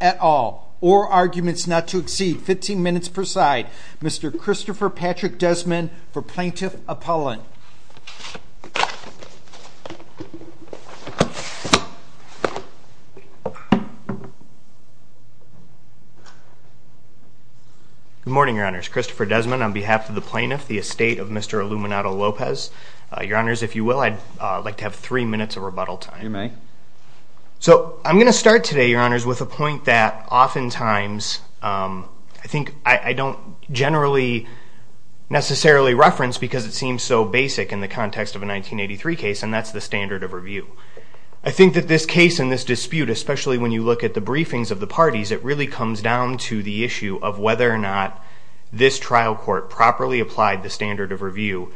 at all or arguments not to exceed 15 minutes per side. Mr. Christopher Patrick Desmond for Plaintiff Appellant. Good morning, Your Honors. Christopher Desmond on behalf of the Plaintiff Appellant. The estate of Mr. Illuminato Lopez. Your Honors, if you will, I'd like to have three minutes of rebuttal time. You may. So I'm going to start today, Your Honors, with a point that oftentimes I think I don't generally necessarily reference because it seems so basic in the context of a 1983 case and that's the standard of review. I think that this case and this dispute, especially when you look at the briefings of the parties, it really comes down to the issue of whether or not this trial court properly applied the standard of review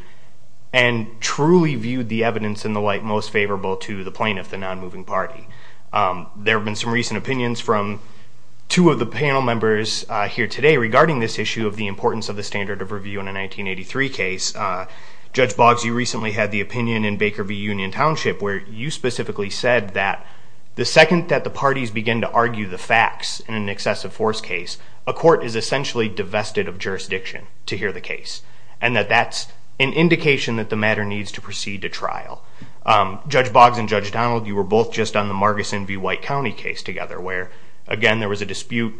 and truly viewed the evidence in the light most favorable to the plaintiff, the non-moving party. There have been some recent opinions from two of the panel members here today regarding this issue of the importance of the standard of review in a 1983 case. Judge Boggs, you recently had the opinion in Baker v. Union Township where you specifically said that the second that the parties begin to argue the facts in an excessive force case, a court is essentially divested of jurisdiction to hear the case and that that's an indication that the matter needs to proceed to trial. Judge Boggs and Judge Donald, you were both just on the Marguson v. White County case together where, again, there was a dispute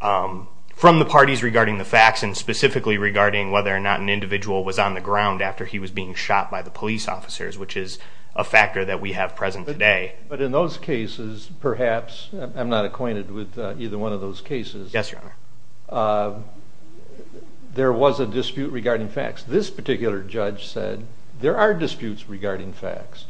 from the parties regarding the facts and specifically regarding whether or not an individual was on the ground after he was being shot by the police officers, which is a factor that we have present today. But in those cases, perhaps, I'm not acquainted with either one of those cases, there was a dispute regarding facts. This particular judge said there are disputes regarding facts,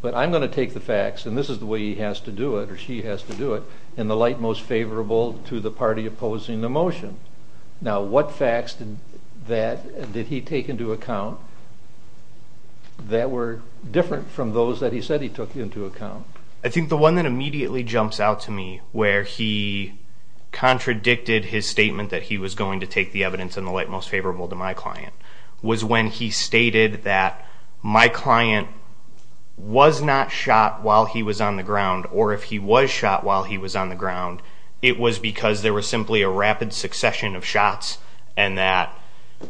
but I'm going to take the facts and this is the way he has to do it or she has to do it in the light most favorable to the party opposing the motion. Now, what facts did he take into account that were different from those that he said he took into account? I think the one that immediately jumps out to me where he contradicted his statement that he was going to take the evidence in the light most favorable to my client was when he stated that my client was not shot while he was on the ground or if he was shot while he was on the ground, it was because there was simply a rapid succession of shots and that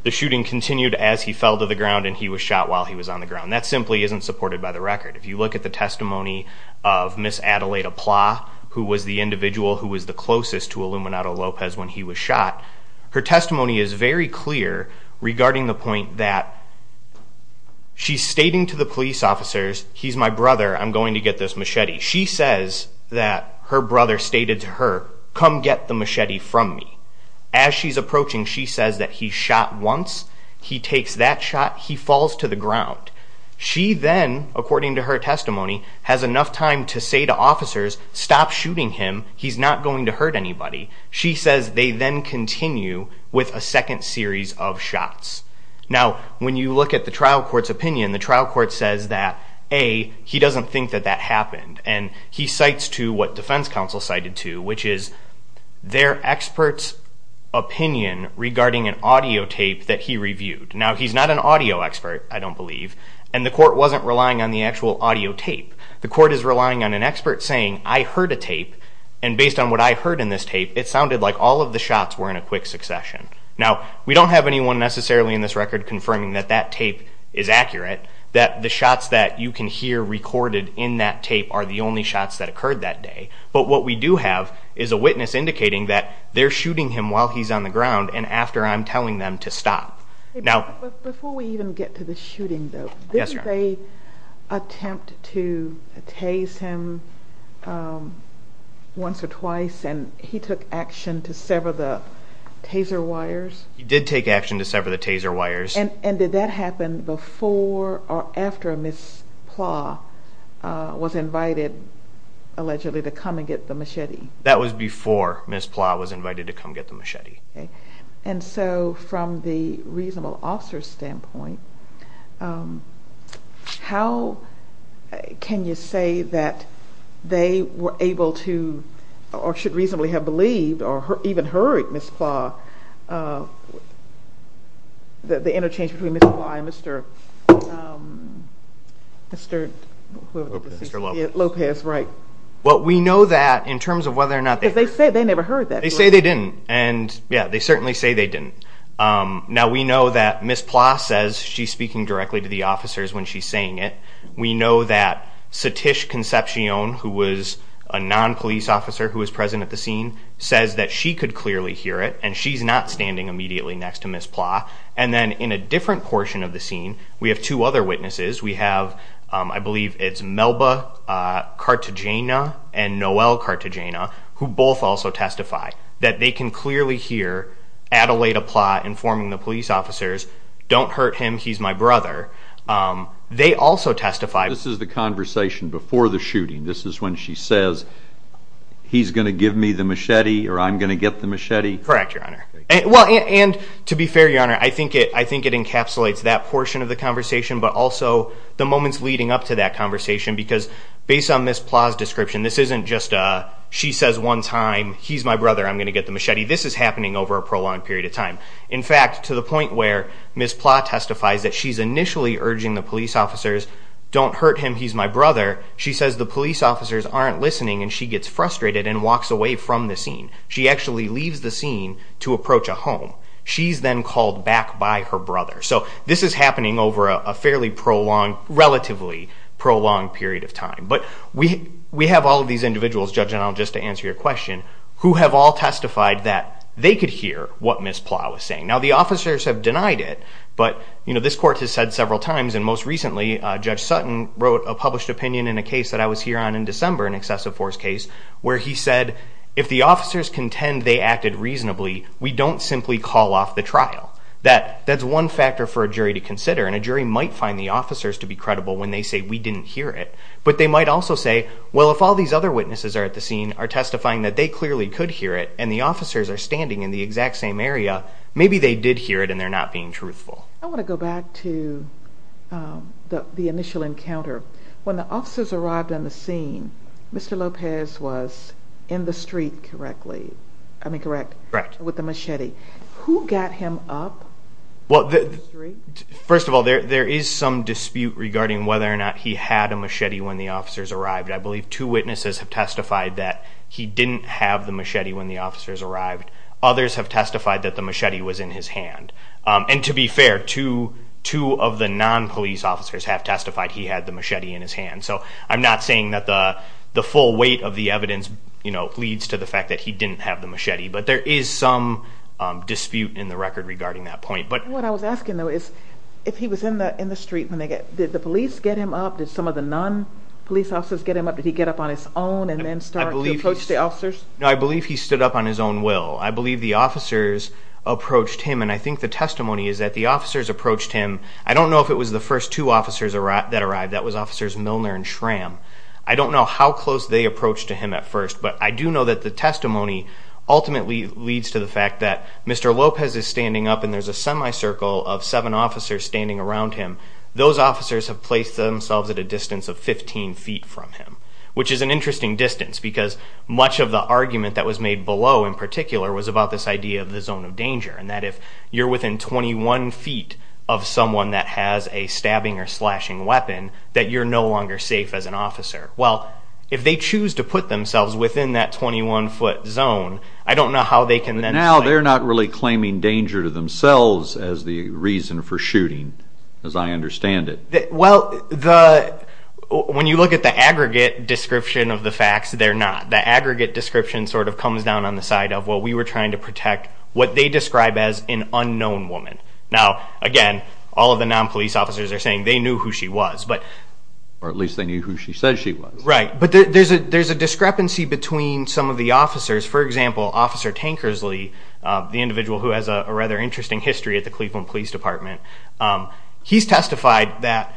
the shooting continued as he fell to the ground and he was shot while he was on the ground. That simply isn't supported by the record. If you look at the testimony of Miss Adelaida Plah, who was the individual who was the closest to Illuminato Lopez when he was shot, her testimony is very clear regarding the point that she's stating to the police officers, he's my brother, I'm going to get this machete. She says that her brother stated to her, come get the machete from me. As she's approaching, she says that he shot once, he takes that shot, he falls to the ground. She then, according to her testimony, has enough time to say to officers, stop shooting him, he's not going to hurt anybody. She says they then continue with a second series of shots. Now, when you look at the trial court's opinion, the trial court says that A, he doesn't think that that happened and he cites to what defense counsel cited to, which is their expert's opinion regarding an audio tape that he reviewed. Now, he's not an audio expert, I don't believe, and the court wasn't relying on the actual audio tape. The court is relying on an expert saying, I heard a tape and based on what I heard in this tape, it sounded like all of the shots were in a quick succession. Now, we don't have anyone necessarily in this record confirming that that tape is accurate, that the shots that you can hear recorded in that tape are the only shots that occurred that day, but what we do have is a witness indicating that they're shooting him while he's on the ground and after I'm telling them to stop. Now, before we even get to the shooting though, didn't they attempt to tase him once or twice and he took action to sever the taser wires? He did take action to sever the taser wires. And did that happen before or after Miss Plah was invited, allegedly, to come and get the machete? That was before Miss Plah was invited to come get the machete. And so from the reasonable officer's standpoint, how can you say that they were able to or should reasonably have believed or even heard Miss Plah, the interchange between Miss Plah and Mr. Lopez, right? Well, we know that in terms of whether or not they... Because they said they never heard that. They say they didn't. And yeah, they certainly say they didn't. Now, we know that Miss Plah says she's speaking directly to the officers when she's saying it. We know that Satish Concepcion, who was a non-police officer who was present at the scene, says that she could clearly hear it and she's not standing immediately next to Miss Plah. And then in a different portion of the scene, we have two other witnesses. We have, I believe it's Melba Cartagena and Noel Cartagena, who both also testify that they can clearly hear Adelaida Plah informing the police officers, don't hurt him, he's my brother. They also testify... This is the conversation before the shooting. This is when she says, he's going to give me the machete or I'm going to get the machete? Correct, Your Honor. And to be fair, Your Honor, I think it encapsulates that portion of the conversation, but also the moments leading up to that conversation. Because based on Miss Plah's description, this isn't just she says one time, he's my brother, I'm going to get the machete. This is happening over a prolonged period of time. In fact, to the point where Miss Plah testifies that she's initially urging the police officers, don't hurt him, he's my brother. She says the police officers aren't listening and she gets frustrated and walks away from the scene. She actually leaves the scene to approach a home. She's then called back by her brother. So this is happening over a fairly prolonged, relatively prolonged period of time. But we have all of these individuals, Judge Genel, just to answer your question, who have all testified that they could hear what Miss Plah was saying. Now the officers have denied it, but this court has said several times, and most recently, Judge Sutton wrote a published opinion in a case that I was here on in December, an excessive force case, where he said, if the officers contend they acted reasonably, we don't simply call off the trial. That's one factor for a jury to consider. And a jury might find the officers to be credible when they say we didn't hear it. But they might also say, well, if all these other witnesses are at the scene are testifying that they clearly could hear it, and the officers are standing in the exact same area, maybe they did hear it and they're not being truthful. I want to go back to the initial encounter. When the officers arrived on the scene, Mr. Lopez was in the street correctly. I mean, correct? Correct. With the machete. Who got him up? Well, first of all, there is some dispute regarding whether or not he had a machete when the officers arrived. I believe two witnesses have testified that he didn't have the machete when the officers arrived. Others have testified that the machete was in his hand. And to be fair, two of the non-police officers have testified he had the machete in his hand. So I'm not saying that the full weight of the evidence leads to the fact that he didn't have the machete. But there is some dispute in the record regarding that point. What I was asking, though, is if he was in the street, did the police get him up? Did some of the non-police officers get him up? Did he get up on his own and then start to approach the officers? No, I believe he stood up on his own will. I believe the officers approached him. And I think the testimony is that the officers approached him. I don't know if it was the first two officers that arrived. That was Officers Milner and Schramm. I don't know how close they approached him at first. But I do know that the testimony ultimately leads to the fact that Mr. Lopez is standing up and there's a semicircle of seven officers standing around him. Those officers have placed themselves at a distance of 15 feet from him. Which is an interesting distance because much of the argument that was made below in particular was about this idea of the zone of danger. And that if you're within 21 feet of someone that has a stabbing or slashing weapon, that you're no longer safe as an officer. Well, if they choose to put themselves within that 21 foot zone, I don't know how they can then... But now they're not really claiming danger to themselves as the reason for shooting, as I understand it. Well, when you look at the aggregate description of the facts, they're not. The aggregate description sort of comes down on the side of what we were trying to protect, what they describe as an unknown woman. Now, again, all of the non-police officers are saying they knew who she was. Or at least they knew who she said she was. Right. But there's a discrepancy between some of the officers. For example, Officer Tankersley, the individual who has a rather interesting history at the Cleveland Police Department. He's testified that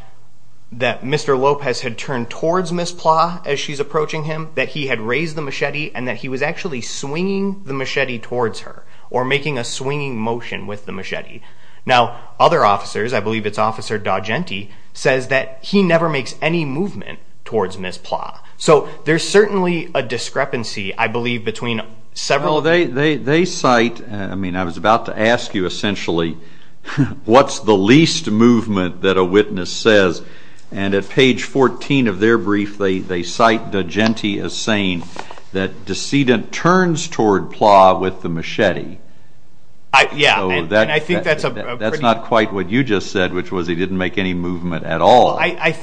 Mr. Lopez had turned towards Ms. Plah as she's approaching him, that he had raised the machete and that he was actually swinging the machete towards her or making a swinging motion with the machete. Now, other officers, I believe it's Officer D'Agenti, says that he never makes any movement towards Ms. Plah. So there's certainly a discrepancy, I believe, between several... Well, they cite, I mean, I was about to ask you essentially, what's the least movement that a witness says? And at page 14 of their brief, they cite D'Agenti as saying that the decedent turns toward Plah with the machete. Yeah, and I think that's a pretty... That's not quite what you just said, which was he didn't make any movement at all. I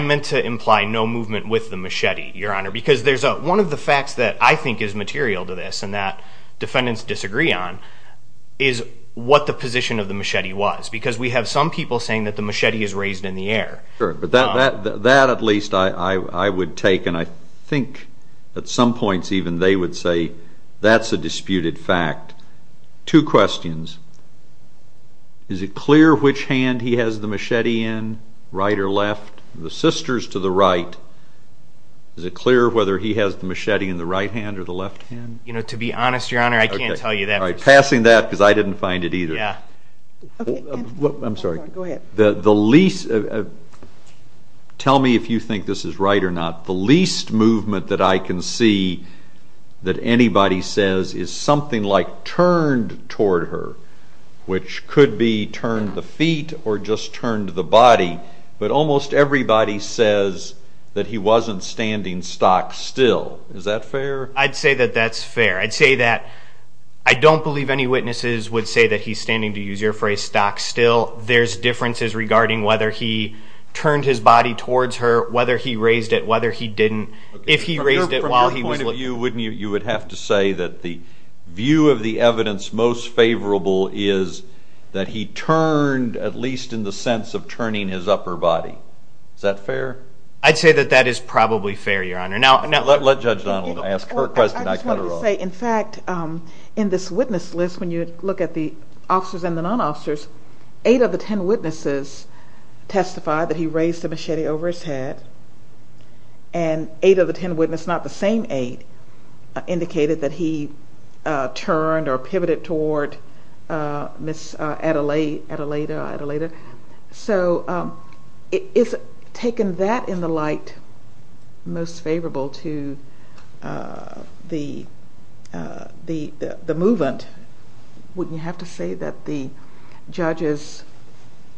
meant to imply no movement with the machete, Your Honor, because one of the facts that I think is material to this and that defendants disagree on is what the position of the machete was. Because we have some people saying that the machete is raised in the air. Sure, but that at least I would take, and I think at some points even they would say that's a disputed fact. Two questions. Is it clear which hand he has the machete in, right or left? The sister's to the right. Is it clear whether he has the machete in the right hand or the left hand? You know, to be honest, Your Honor, I can't tell you that. All right, passing that because I didn't find it either. Yeah. I'm sorry. Go ahead. The least... Tell me if you think this is right or not. The least movement that I can see that anybody says is something like turned toward her, which could be turned the feet or just turned the body, but almost everybody says that he wasn't standing stock still. Is that fair? I'd say that that's fair. I'd say that I don't believe any witnesses would say that he's standing, to use your phrase, stock still. There's differences regarding whether he turned his body towards her, whether he raised it, whether he didn't, if he raised it while he was looking. From your point of view, you would have to say that the view of the evidence most favorable is that he turned at least in the sense of turning his upper body. Is that fair? I'd say that that is probably fair, Your Honor. Let Judge Donald ask her question. I just wanted to say, in fact, in this witness list, when you look at the officers and the non-officers, eight of the 10 witnesses testified that he raised a machete over his head, and eight of the 10 witnesses, not the same eight, indicated that he turned or pivoted toward Miss Adelaida. So is taking that in the light most favorable to the movement, wouldn't you have to say that the judge's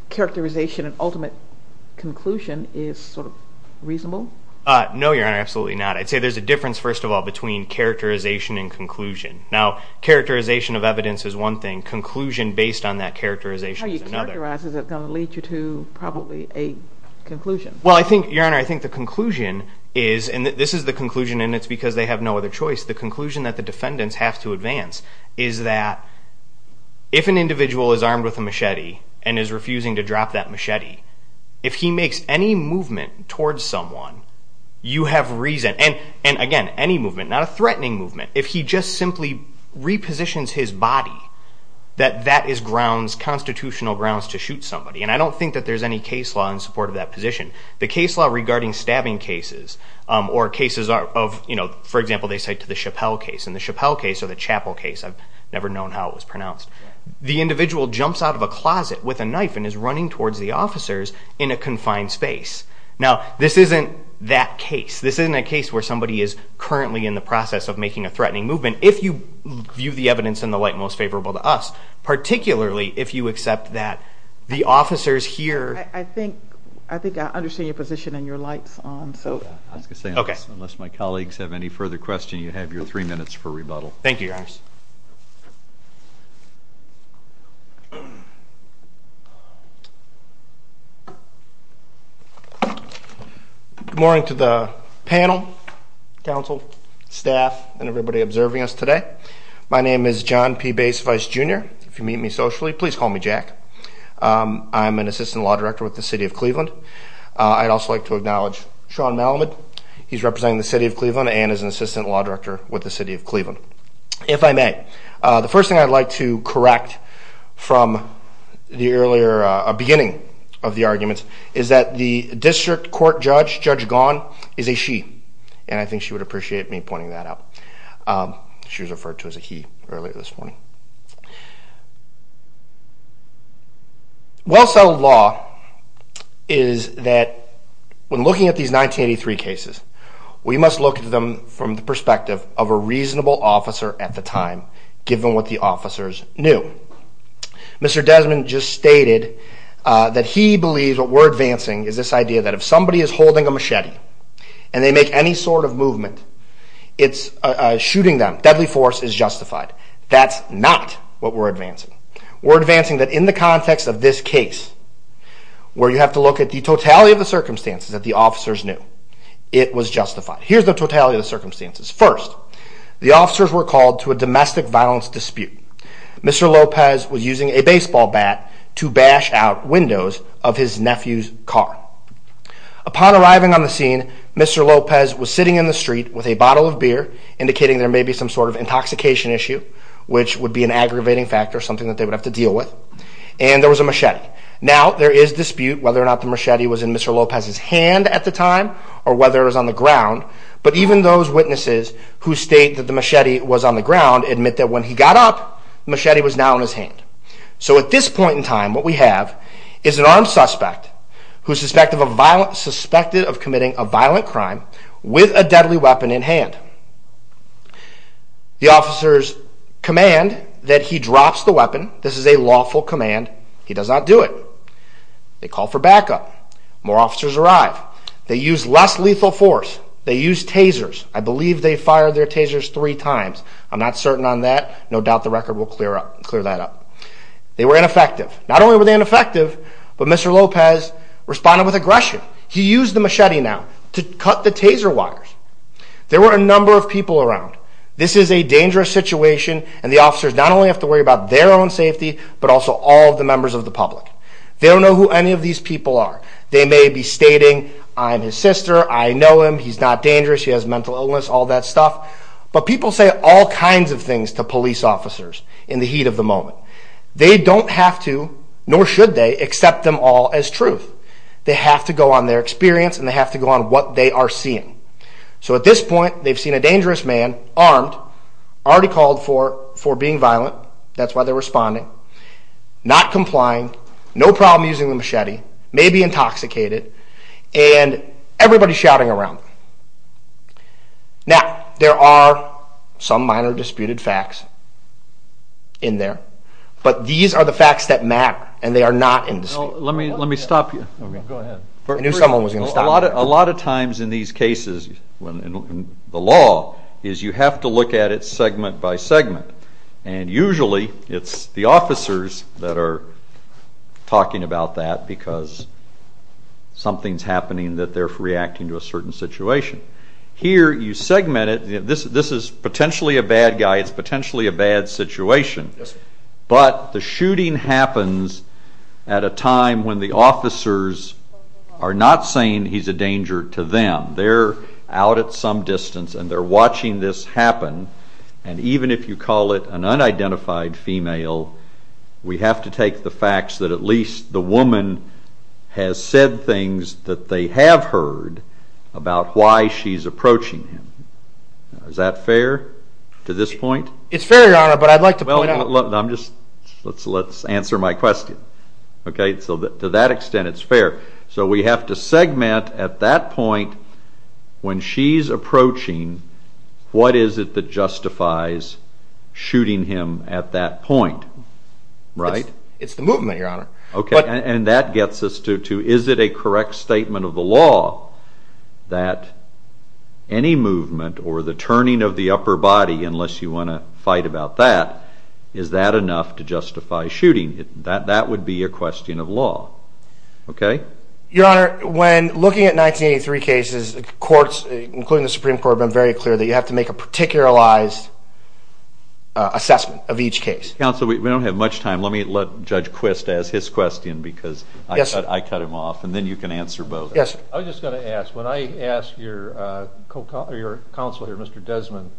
characterization and ultimate conclusion is sort of reasonable? No, Your Honor, absolutely not. I'd say there's a difference, first of all, between characterization and conclusion. Now, characterization of evidence is one thing. Conclusion, based on that characterization, is another. So characterization is going to lead you to probably a conclusion. Well, Your Honor, I think the conclusion is, and this is the conclusion, and it's because they have no other choice, the conclusion that the defendants have to advance is that if an individual is armed with a machete and is refusing to drop that machete, if he makes any movement towards someone, you have reason. And again, any movement, not a threatening movement, if he just simply repositions his body, that that is grounds, constitutional grounds, to shoot somebody. And I don't think that there's any case law in support of that position. The case law regarding stabbing cases or cases of, for example, they cite the Chappell case, and the Chappell case or the Chappell case, I've never known how it was pronounced, the individual jumps out of a closet with a knife and is running towards the officers in a confined space. Now, this isn't that case. This isn't a case where somebody is currently in the process of making a threatening movement, if you view the evidence in the light most favorable to us, particularly if you accept that the officers here... I think I understand your position and your light's on, so... I was going to say, unless my colleagues have any further questions, you have your three minutes for rebuttal. Thank you, Your Honor. Good morning to the panel, counsel, staff, and everybody observing us today. My name is John P. Bacevice, Jr. If you meet me socially, please call me Jack. I'm an assistant law director with the city of Cleveland. I'd also like to acknowledge Sean Malamud. He's representing the city of Cleveland and is an assistant law director with the city of Cleveland. If I may, the first thing I'd like to correct from the earlier beginning of the arguments is that the district court judge, Judge Gaughan, is a she. And I think she would appreciate me pointing that out. She was referred to as a he earlier this morning. Well-settled law is that when looking at these 1983 cases, we must look at them from the perspective of a reasonable officer at the time, given what the officers knew. Mr. Desmond just stated that he believes what we're advancing is this idea that if somebody is holding a machete and they make any sort of movement, it's shooting them. Deadly force is justified. That's not what we're advancing. We're advancing that in the context of this case, where you have to look at the totality of the circumstances that the officers knew, it was justified. Here's the totality of the circumstances. First, the officers were called to a domestic violence dispute. Mr. Lopez was using a baseball bat to bash out windows of his nephew's car. Upon arriving on the scene, Mr. Lopez was sitting in the street with a bottle of beer, indicating there may be some sort of intoxication issue, which would be an aggravating factor, something that they would have to deal with. And there was a machete. Now, there is dispute whether or not the machete was in Mr. Lopez's hand at the time or whether it was on the ground. But even those witnesses who state that the machete was on the ground admit that when he got up, the machete was now in his hand. So at this point in time, what we have is an armed suspect who is suspected of committing a violent crime with a deadly weapon in hand. The officers command that he drops the weapon. This is a lawful command. He does not do it. They call for backup. More officers arrive. They use less lethal force. They use tasers. I believe they fired their tasers three times. I'm not certain on that. No doubt the record will clear that up. They were ineffective. Not only were they ineffective, but Mr. Lopez responded with aggression. He used the machete now to cut the taser wires. There were a number of people around. This is a dangerous situation, and the officers not only have to worry about their own safety, but also all of the members of the public. They don't know who any of these people are. They may be stating, I'm his sister, I know him, he's not dangerous, he has mental illness, all that stuff. But people say all kinds of things to police officers in the heat of the moment. They don't have to, nor should they, accept them all as truth. They have to go on their experience, and they have to go on what they are seeing. So at this point, they've seen a dangerous man, armed, already called for being violent. That's why they're responding. Not complying. No problem using the machete. Maybe intoxicated. And everybody's shouting around. Now, there are some minor disputed facts in there. But these are the facts that matter, and they are not in dispute. Let me stop you. I knew someone was going to stop me. A lot of times in these cases, in the law, is you have to look at it segment by segment. And usually, it's the officers that are talking about that because something's happening that they're reacting to a certain situation. Here, you segment it. This is potentially a bad guy. It's potentially a bad situation. But the shooting happens at a time when the officers are not saying he's a danger to them. They're out at some distance, and they're watching this happen. And even if you call it an unidentified female, we have to take the facts that at least the woman has said things that they have heard about why she's approaching him. Is that fair to this point? It's fair, Your Honor, but I'd like to point out. Let's answer my question. To that extent, it's fair. So we have to segment at that point when she's approaching, what is it that justifies shooting him at that point, right? It's the movement, Your Honor. Okay, and that gets us to, is it a correct statement of the law that any movement or the turning of the upper body, unless you want to fight about that, is that enough to justify shooting? That would be a question of law, okay? Your Honor, when looking at 1983 cases, the courts, including the Supreme Court, have been very clear that you have to make a particularized assessment of each case. Counsel, we don't have much time. Let me let Judge Quist ask his question because I cut him off, and then you can answer both. Yes, sir. I was just going to ask, when I asked your counsel here, Mr. Desmond,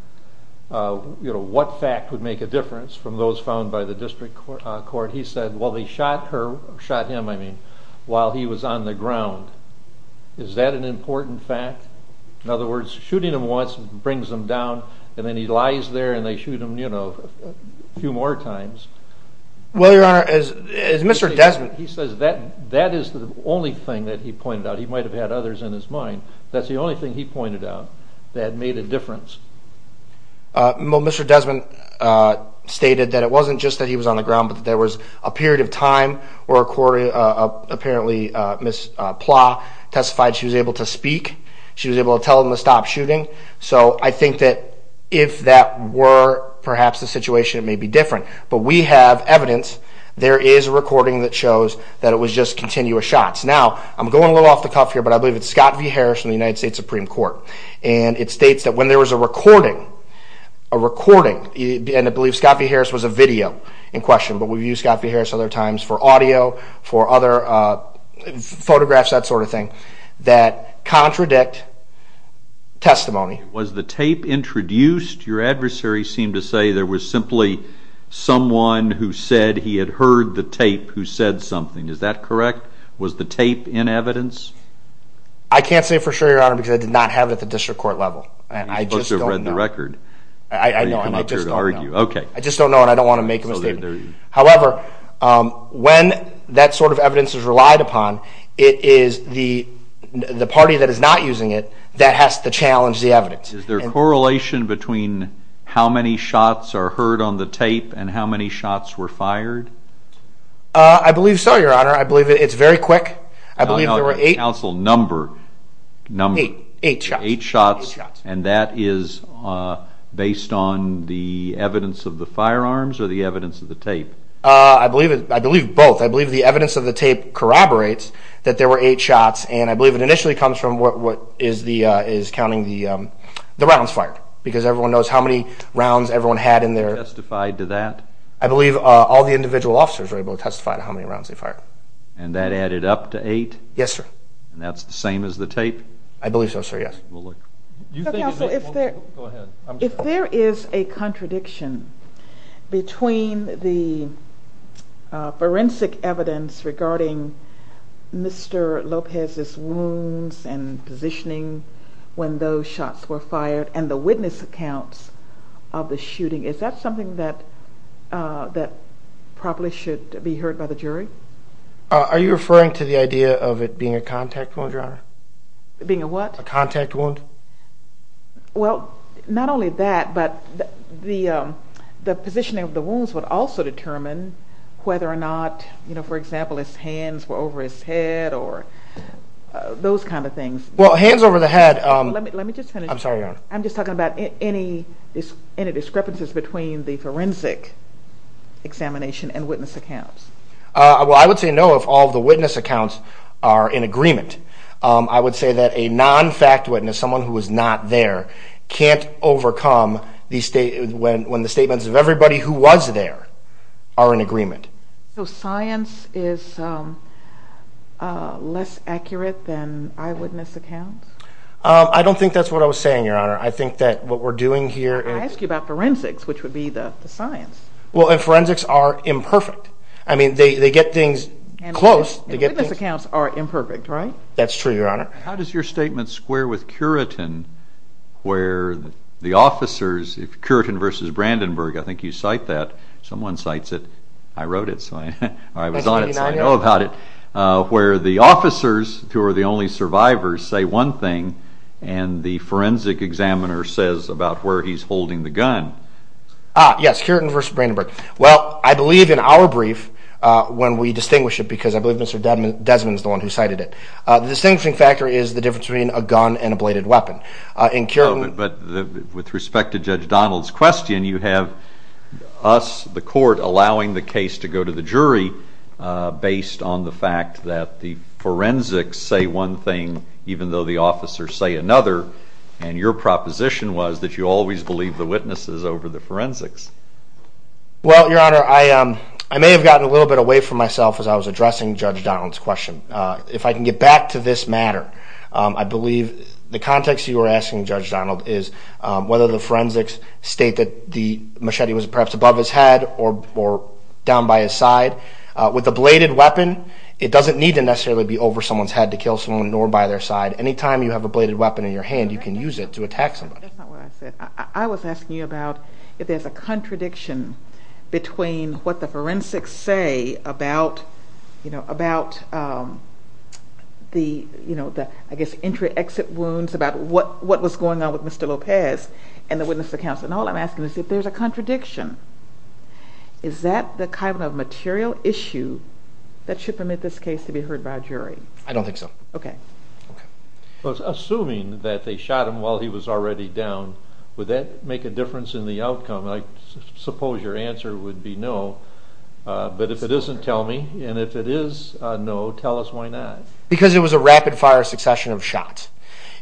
what fact would make a difference from those found by the district court? He said, well, they shot him while he was on the ground. Is that an important fact? In other words, shooting him once brings him down, and then he lies there and they shoot him a few more times. Well, your Honor, as Mr. Desmond... He says that that is the only thing that he pointed out. He might have had others in his mind. That's the only thing he pointed out that made a difference. Well, Mr. Desmond stated that it wasn't just that he was on the ground, but that there was a period of time where apparently Ms. Plah testified she was able to speak. She was able to tell them to stop shooting. So I think that if that were perhaps the situation, it may be different. But we have evidence. There is a recording that shows that it was just continuous shots. Now, I'm going a little off the cuff here, but I believe it's Scott v. Harris from the United States Supreme Court. And it states that when there was a recording, and I believe Scott v. Harris was a video in question, but we've used Scott v. Harris other times for audio, for other photographs, that sort of thing, that contradict testimony. Was the tape introduced? Your adversary seemed to say there was simply someone who said he had heard the tape who said something. Is that correct? Was the tape in evidence? I can't say for sure, Your Honor, because I did not have it at the district court level. You both have read the record. I know, and I just don't know. I just don't know, and I don't want to make a mistake. However, when that sort of evidence is relied upon, it is the party that is not using it that has to challenge the evidence. Is there a correlation between how many shots are heard on the tape and how many shots were fired? I believe so, Your Honor. I believe it's very quick. No, no, counsel, number. Number. Eight shots. Eight shots, and that is based on the evidence of the firearms or the evidence of the tape? I believe both. I believe the evidence of the tape corroborates that there were eight shots, and I believe it initially comes from what is counting the rounds fired, because everyone knows how many rounds everyone had in their… Testified to that? I believe all the individual officers were able to testify to how many rounds they fired. And that added up to eight? Yes, sir. And that's the same as the tape? I believe so, sir, yes. Counsel, if there is a contradiction between the forensic evidence regarding Mr. Lopez's wounds and positioning when those shots were fired and the witness accounts of the shooting, is that something that probably should be heard by the jury? Are you referring to the idea of it being a contact wound, Your Honor? Being a what? A contact wound. Well, not only that, but the positioning of the wounds would also determine whether or not, you know, for example, his hands were over his head or those kind of things. Well, hands over the head… Let me just finish. I'm sorry, Your Honor. I'm just talking about any discrepancies between the forensic examination and witness accounts. Well, I would say no if all the witness accounts are in agreement. I would say that a non-fact witness, someone who was not there, can't overcome when the statements of everybody who was there are in agreement. So science is less accurate than eyewitness accounts? I don't think that's what I was saying, Your Honor. I think that what we're doing here… I asked you about forensics, which would be the science. Well, and forensics are imperfect. I mean, they get things close. And witness accounts are imperfect, right? That's true, Your Honor. How does your statement square with Curitin, where the officers… I think you cite that. Someone cites it. I wrote it. I was on it, so I know about it. Where the officers, who are the only survivors, say one thing, and the forensic examiner says about where he's holding the gun. Ah, yes, Curitin versus Brandenburg. Well, I believe in our brief, when we distinguish it, because I believe Mr. Desmond is the one who cited it, the distinguishing factor is the difference between a gun and a bladed weapon. In Curitin… But with respect to Judge Donald's question, you have us, the court, allowing the case to go to the jury based on the fact that the forensics say one thing, even though the officers say another, and your proposition was that you always believe the witnesses over the forensics. Well, Your Honor, I may have gotten a little bit away from myself as I was addressing Judge Donald's question. If I can get back to this matter, I believe the context you were asking, Judge Donald, is whether the forensics state that the machete was perhaps above his head or down by his side. With a bladed weapon, it doesn't need to necessarily be over someone's head to kill someone, nor by their side. Anytime you have a bladed weapon in your hand, you can use it to attack somebody. That's not what I said. I was asking you about if there's a contradiction between what the forensics say about the entry-exit wounds, about what was going on with Mr. Lopez, and the witness accounts. All I'm asking is if there's a contradiction. Is that the kind of material issue that should permit this case to be heard by a jury? I don't think so. Okay. Assuming that they shot him while he was already down, would that make a difference in the outcome? I suppose your answer would be no. But if it isn't, tell me. And if it is no, tell us why not. Because it was a rapid-fire succession of shots.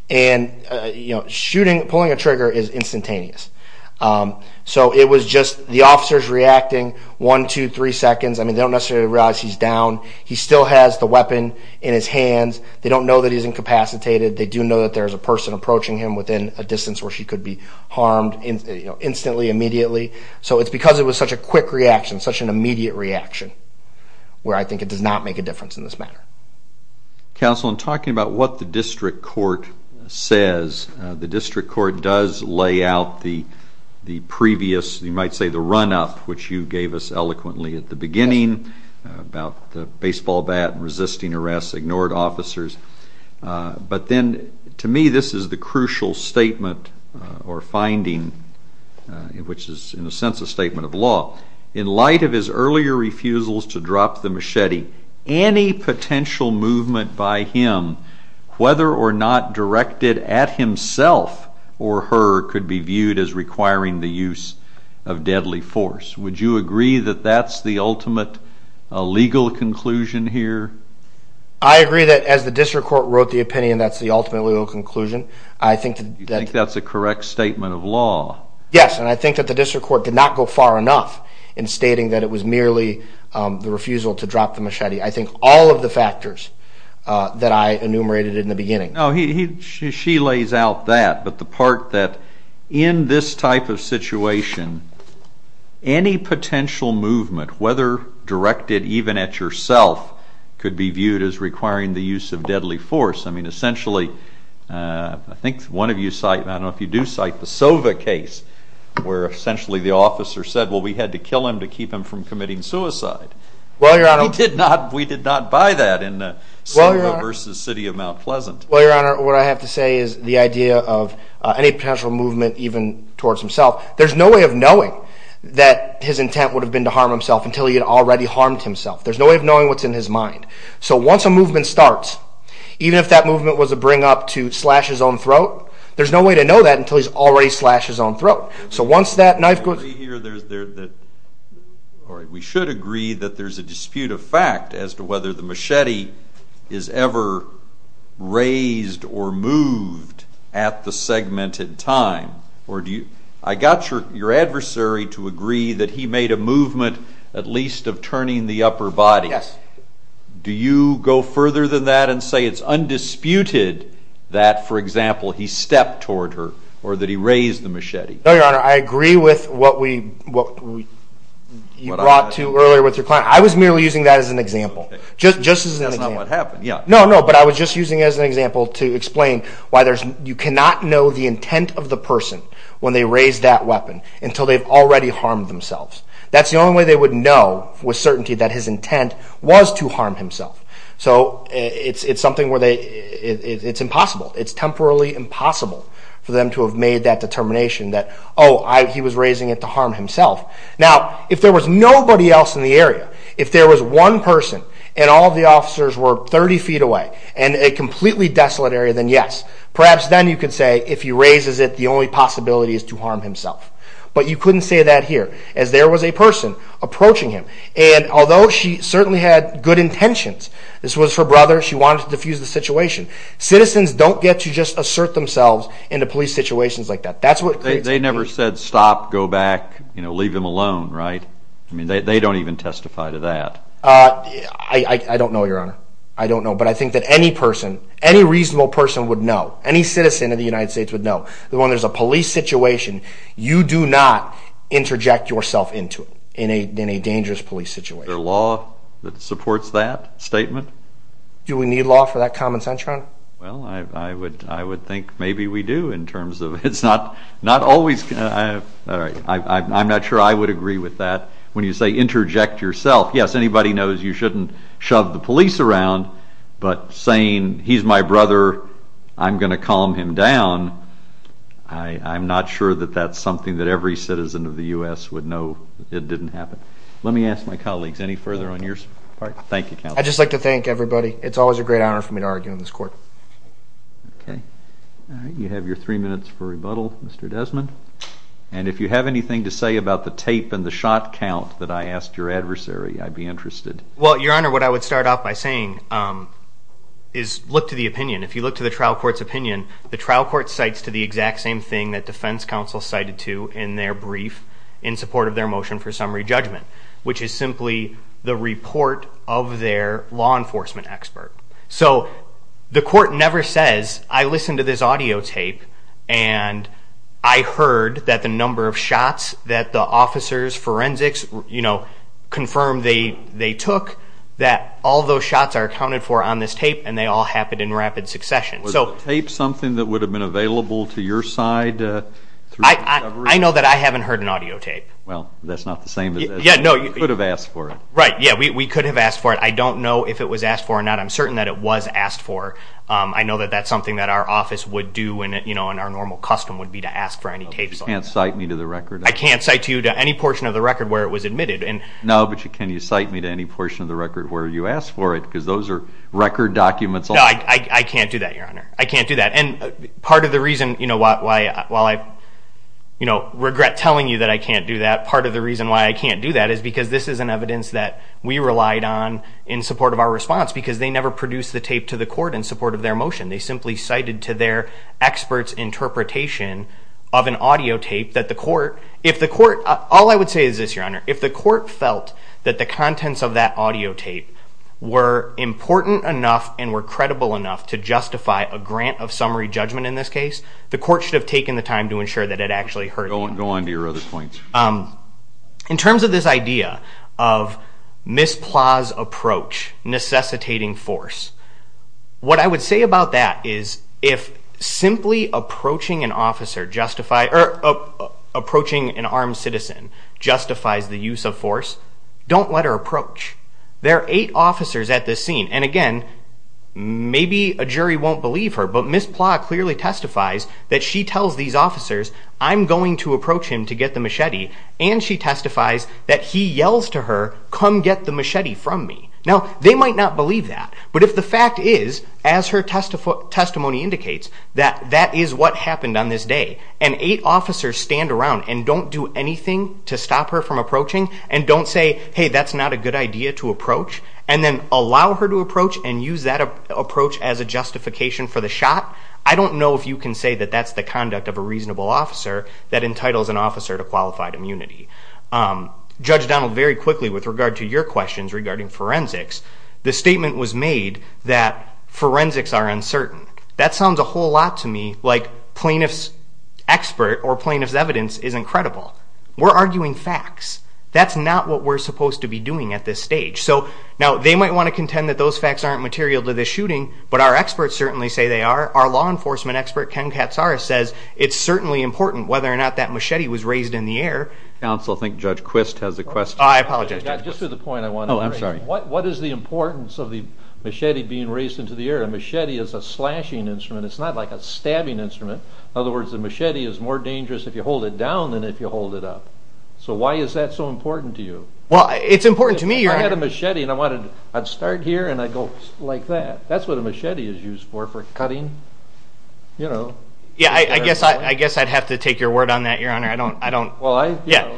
And, you know, shooting, pulling a trigger is instantaneous. So it was just the officers reacting one, two, three seconds. I mean, they don't necessarily realize he's down. He still has the weapon in his hands. They don't know that he's incapacitated. They do know that there's a person approaching him within a distance where she could be harmed instantly, immediately. So it's because it was such a quick reaction, such an immediate reaction, where I think it does not make a difference in this matter. Counsel, in talking about what the district court says, the district court does lay out the previous, you might say, the run-up, which you gave us eloquently at the beginning, about the baseball bat and resisting arrests, ignored officers. But then, to me, this is the crucial statement or finding, which is in a sense a statement of law. In light of his earlier refusals to drop the machete, any potential movement by him, whether or not directed at himself or her, could be viewed as requiring the use of deadly force. Would you agree that that's the ultimate legal conclusion here? I agree that, as the district court wrote the opinion, that's the ultimate legal conclusion. You think that's a correct statement of law? Yes, and I think that the district court did not go far enough in stating that it was merely the refusal to drop the machete. I think all of the factors that I enumerated in the beginning. No, she lays out that, but the part that in this type of situation, any potential movement, whether directed even at yourself, could be viewed as requiring the use of deadly force. I mean, essentially, I think one of you cited, I don't know if you do cite the Sova case, where essentially the officer said, well, we had to kill him to keep him from committing suicide. We did not buy that in Sova versus City of Mount Pleasant. Well, Your Honor, what I have to say is the idea of any potential movement even towards himself, there's no way of knowing that his intent would have been to harm himself until he had already harmed himself. There's no way of knowing what's in his mind. So once a movement starts, even if that movement was to bring up to slash his own throat, there's no way to know that until he's already slashed his own throat. We should agree that there's a dispute of fact as to whether the machete is ever raised or moved at the segmented time. I got your adversary to agree that he made a movement at least of turning the upper body. Do you go further than that and say it's undisputed that, for example, he stepped toward her or that he raised the machete? No, Your Honor, I agree with what you brought to earlier with your client. I was merely using that as an example, just as an example. That's not what happened, yeah. No, no, but I was just using it as an example to explain why you cannot know the intent of the person when they raise that weapon until they've already harmed themselves. That's the only way they would know with certainty that his intent was to harm himself. It's something where it's impossible. It's temporally impossible for them to have made that determination that, oh, he was raising it to harm himself. Now, if there was nobody else in the area, if there was one person and all the officers were 30 feet away in a completely desolate area, then yes. Perhaps then you could say, if he raises it, the only possibility is to harm himself. But you couldn't say that here as there was a person approaching him. And although she certainly had good intentions, this was her brother. She wanted to diffuse the situation. Citizens don't get to just assert themselves into police situations like that. They never said stop, go back, leave him alone, right? I mean, they don't even testify to that. I don't know, Your Honor. I don't know, but I think that any person, any reasonable person would know, any citizen of the United States would know that when there's a police situation, you do not interject yourself into it in a dangerous police situation. Is there law that supports that statement? Do we need law for that common sense, Your Honor? Well, I would think maybe we do in terms of it's not always going to... I'm not sure I would agree with that. When you say interject yourself, yes, anybody knows you shouldn't shove the police around. But saying he's my brother, I'm going to calm him down, I'm not sure that that's something that every citizen of the U.S. would know it didn't happen. Let me ask my colleagues any further on your part. Thank you, Counsel. I'd just like to thank everybody. It's always a great honor for me to argue in this court. Okay. All right, you have your three minutes for rebuttal, Mr. Desmond. And if you have anything to say about the tape and the shot count that I asked your adversary, I'd be interested. Well, Your Honor, what I would start off by saying is look to the opinion. If you look to the trial court's opinion, the trial court cites to the exact same thing that defense counsel cited to in their brief in support of their motion for summary judgment, which is simply the report of their law enforcement expert. So the court never says, I listened to this audio tape and I heard that the number of shots that the officers, forensics, you know, confirmed they took, that all those shots are accounted for on this tape and they all happened in rapid succession. Was the tape something that would have been available to your side? I know that I haven't heard an audio tape. Well, that's not the same as that. You could have asked for it. Right, yeah, we could have asked for it. I don't know if it was asked for or not. I'm certain that it was asked for. I know that that's something that our office would do and, you know, in our normal custom would be to ask for any tapes. You can't cite me to the record? I can't cite you to any portion of the record where it was admitted. No, but can you cite me to any portion of the record where you asked for it? Because those are record documents. No, I can't do that, Your Honor. I can't do that. And part of the reason, you know, while I, you know, regret telling you that I can't do that, part of the reason why I can't do that is because this is an evidence that we relied on in support of our response because they never produced the tape to the court in support of their motion. They simply cited to their expert's interpretation of an audio tape that the court, if the court, all I would say is this, Your Honor, if the court felt that the contents of that audio tape were important enough and were credible enough to justify a grant of summary judgment in this case, the court should have taken the time to ensure that it actually heard it. Go on to your other points. In terms of this idea of Ms. Plah's approach necessitating force, what I would say about that is if simply approaching an officer justified or approaching an armed citizen justifies the use of force, don't let her approach. There are eight officers at this scene, and again, maybe a jury won't believe her, but Ms. Plah clearly testifies that she tells these officers, I'm going to approach him to get the machete, and she testifies that he yells to her, come get the machete from me. Now, they might not believe that, but if the fact is, as her testimony indicates, that that is what happened on this day, and eight officers stand around and don't do anything to stop her from approaching and don't say, hey, that's not a good idea to approach, and then allow her to approach and use that approach as a justification for the shot, I don't know if you can say that that's the conduct of a reasonable officer that entitles an officer to qualified immunity. Judge Donald, very quickly with regard to your questions regarding forensics, the statement was made that forensics are uncertain. That sounds a whole lot to me like plaintiff's expert or plaintiff's evidence is incredible. We're arguing facts. That's not what we're supposed to be doing at this stage. Now, they might want to contend that those facts aren't material to this shooting, but our experts certainly say they are. Our law enforcement expert, Ken Katsaris, says it's certainly important whether or not that machete was raised in the air. Counsel, I think Judge Quist has a question. I apologize, Judge Quist. Just to the point I wanted to make. Oh, I'm sorry. What is the importance of the machete being raised into the air? A machete is a slashing instrument. It's not like a stabbing instrument. In other words, the machete is more dangerous if you hold it down than if you hold it up. So why is that so important to you? Well, it's important to me. If I had a machete and I wanted to start here and I go like that, that's what a machete is used for, for cutting, you know. Yeah, I guess I'd have to take your word on that, Your Honor. I don't. Well, I. Yeah.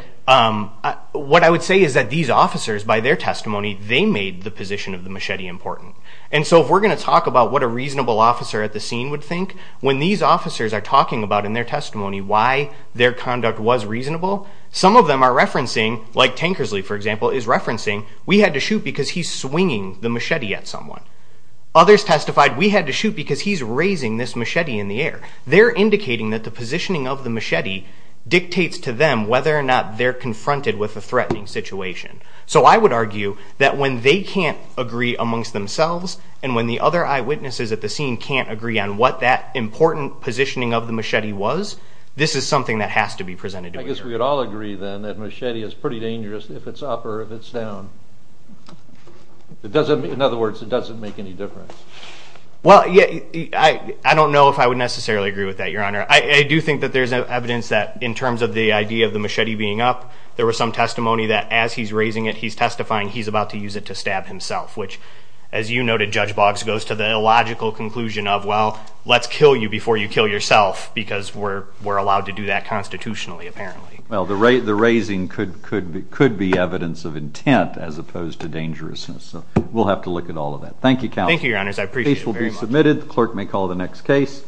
What I would say is that these officers, by their testimony, they made the position of the machete important. And so if we're going to talk about what a reasonable officer at the scene would think, when these officers are talking about in their testimony why their conduct was reasonable, some of them are referencing, like Tankersley, for example, is referencing, we had to shoot because he's swinging the machete at someone. Others testified we had to shoot because he's raising this machete in the air. They're indicating that the positioning of the machete dictates to them whether or not they're confronted with a threatening situation. So I would argue that when they can't agree amongst themselves and when the other eyewitnesses at the scene can't agree on what that important positioning of the machete was, this is something that has to be presented to a jury. I guess we would all agree, then, that machete is pretty dangerous if it's up or if it's down. In other words, it doesn't make any difference. Well, I don't know if I would necessarily agree with that, Your Honor. I do think that there's evidence that in terms of the idea of the machete being up, there was some testimony that as he's raising it, he's testifying he's about to use it to stab himself, which, as you noted, Judge Boggs, goes to the illogical conclusion of, well, let's kill you before you kill yourself because we're allowed to do that constitutionally, apparently. Well, the raising could be evidence of intent as opposed to dangerousness. So we'll have to look at all of that. Thank you, Count. Thank you, Your Honors. I appreciate it very much. The case will be submitted. The clerk may call the next case.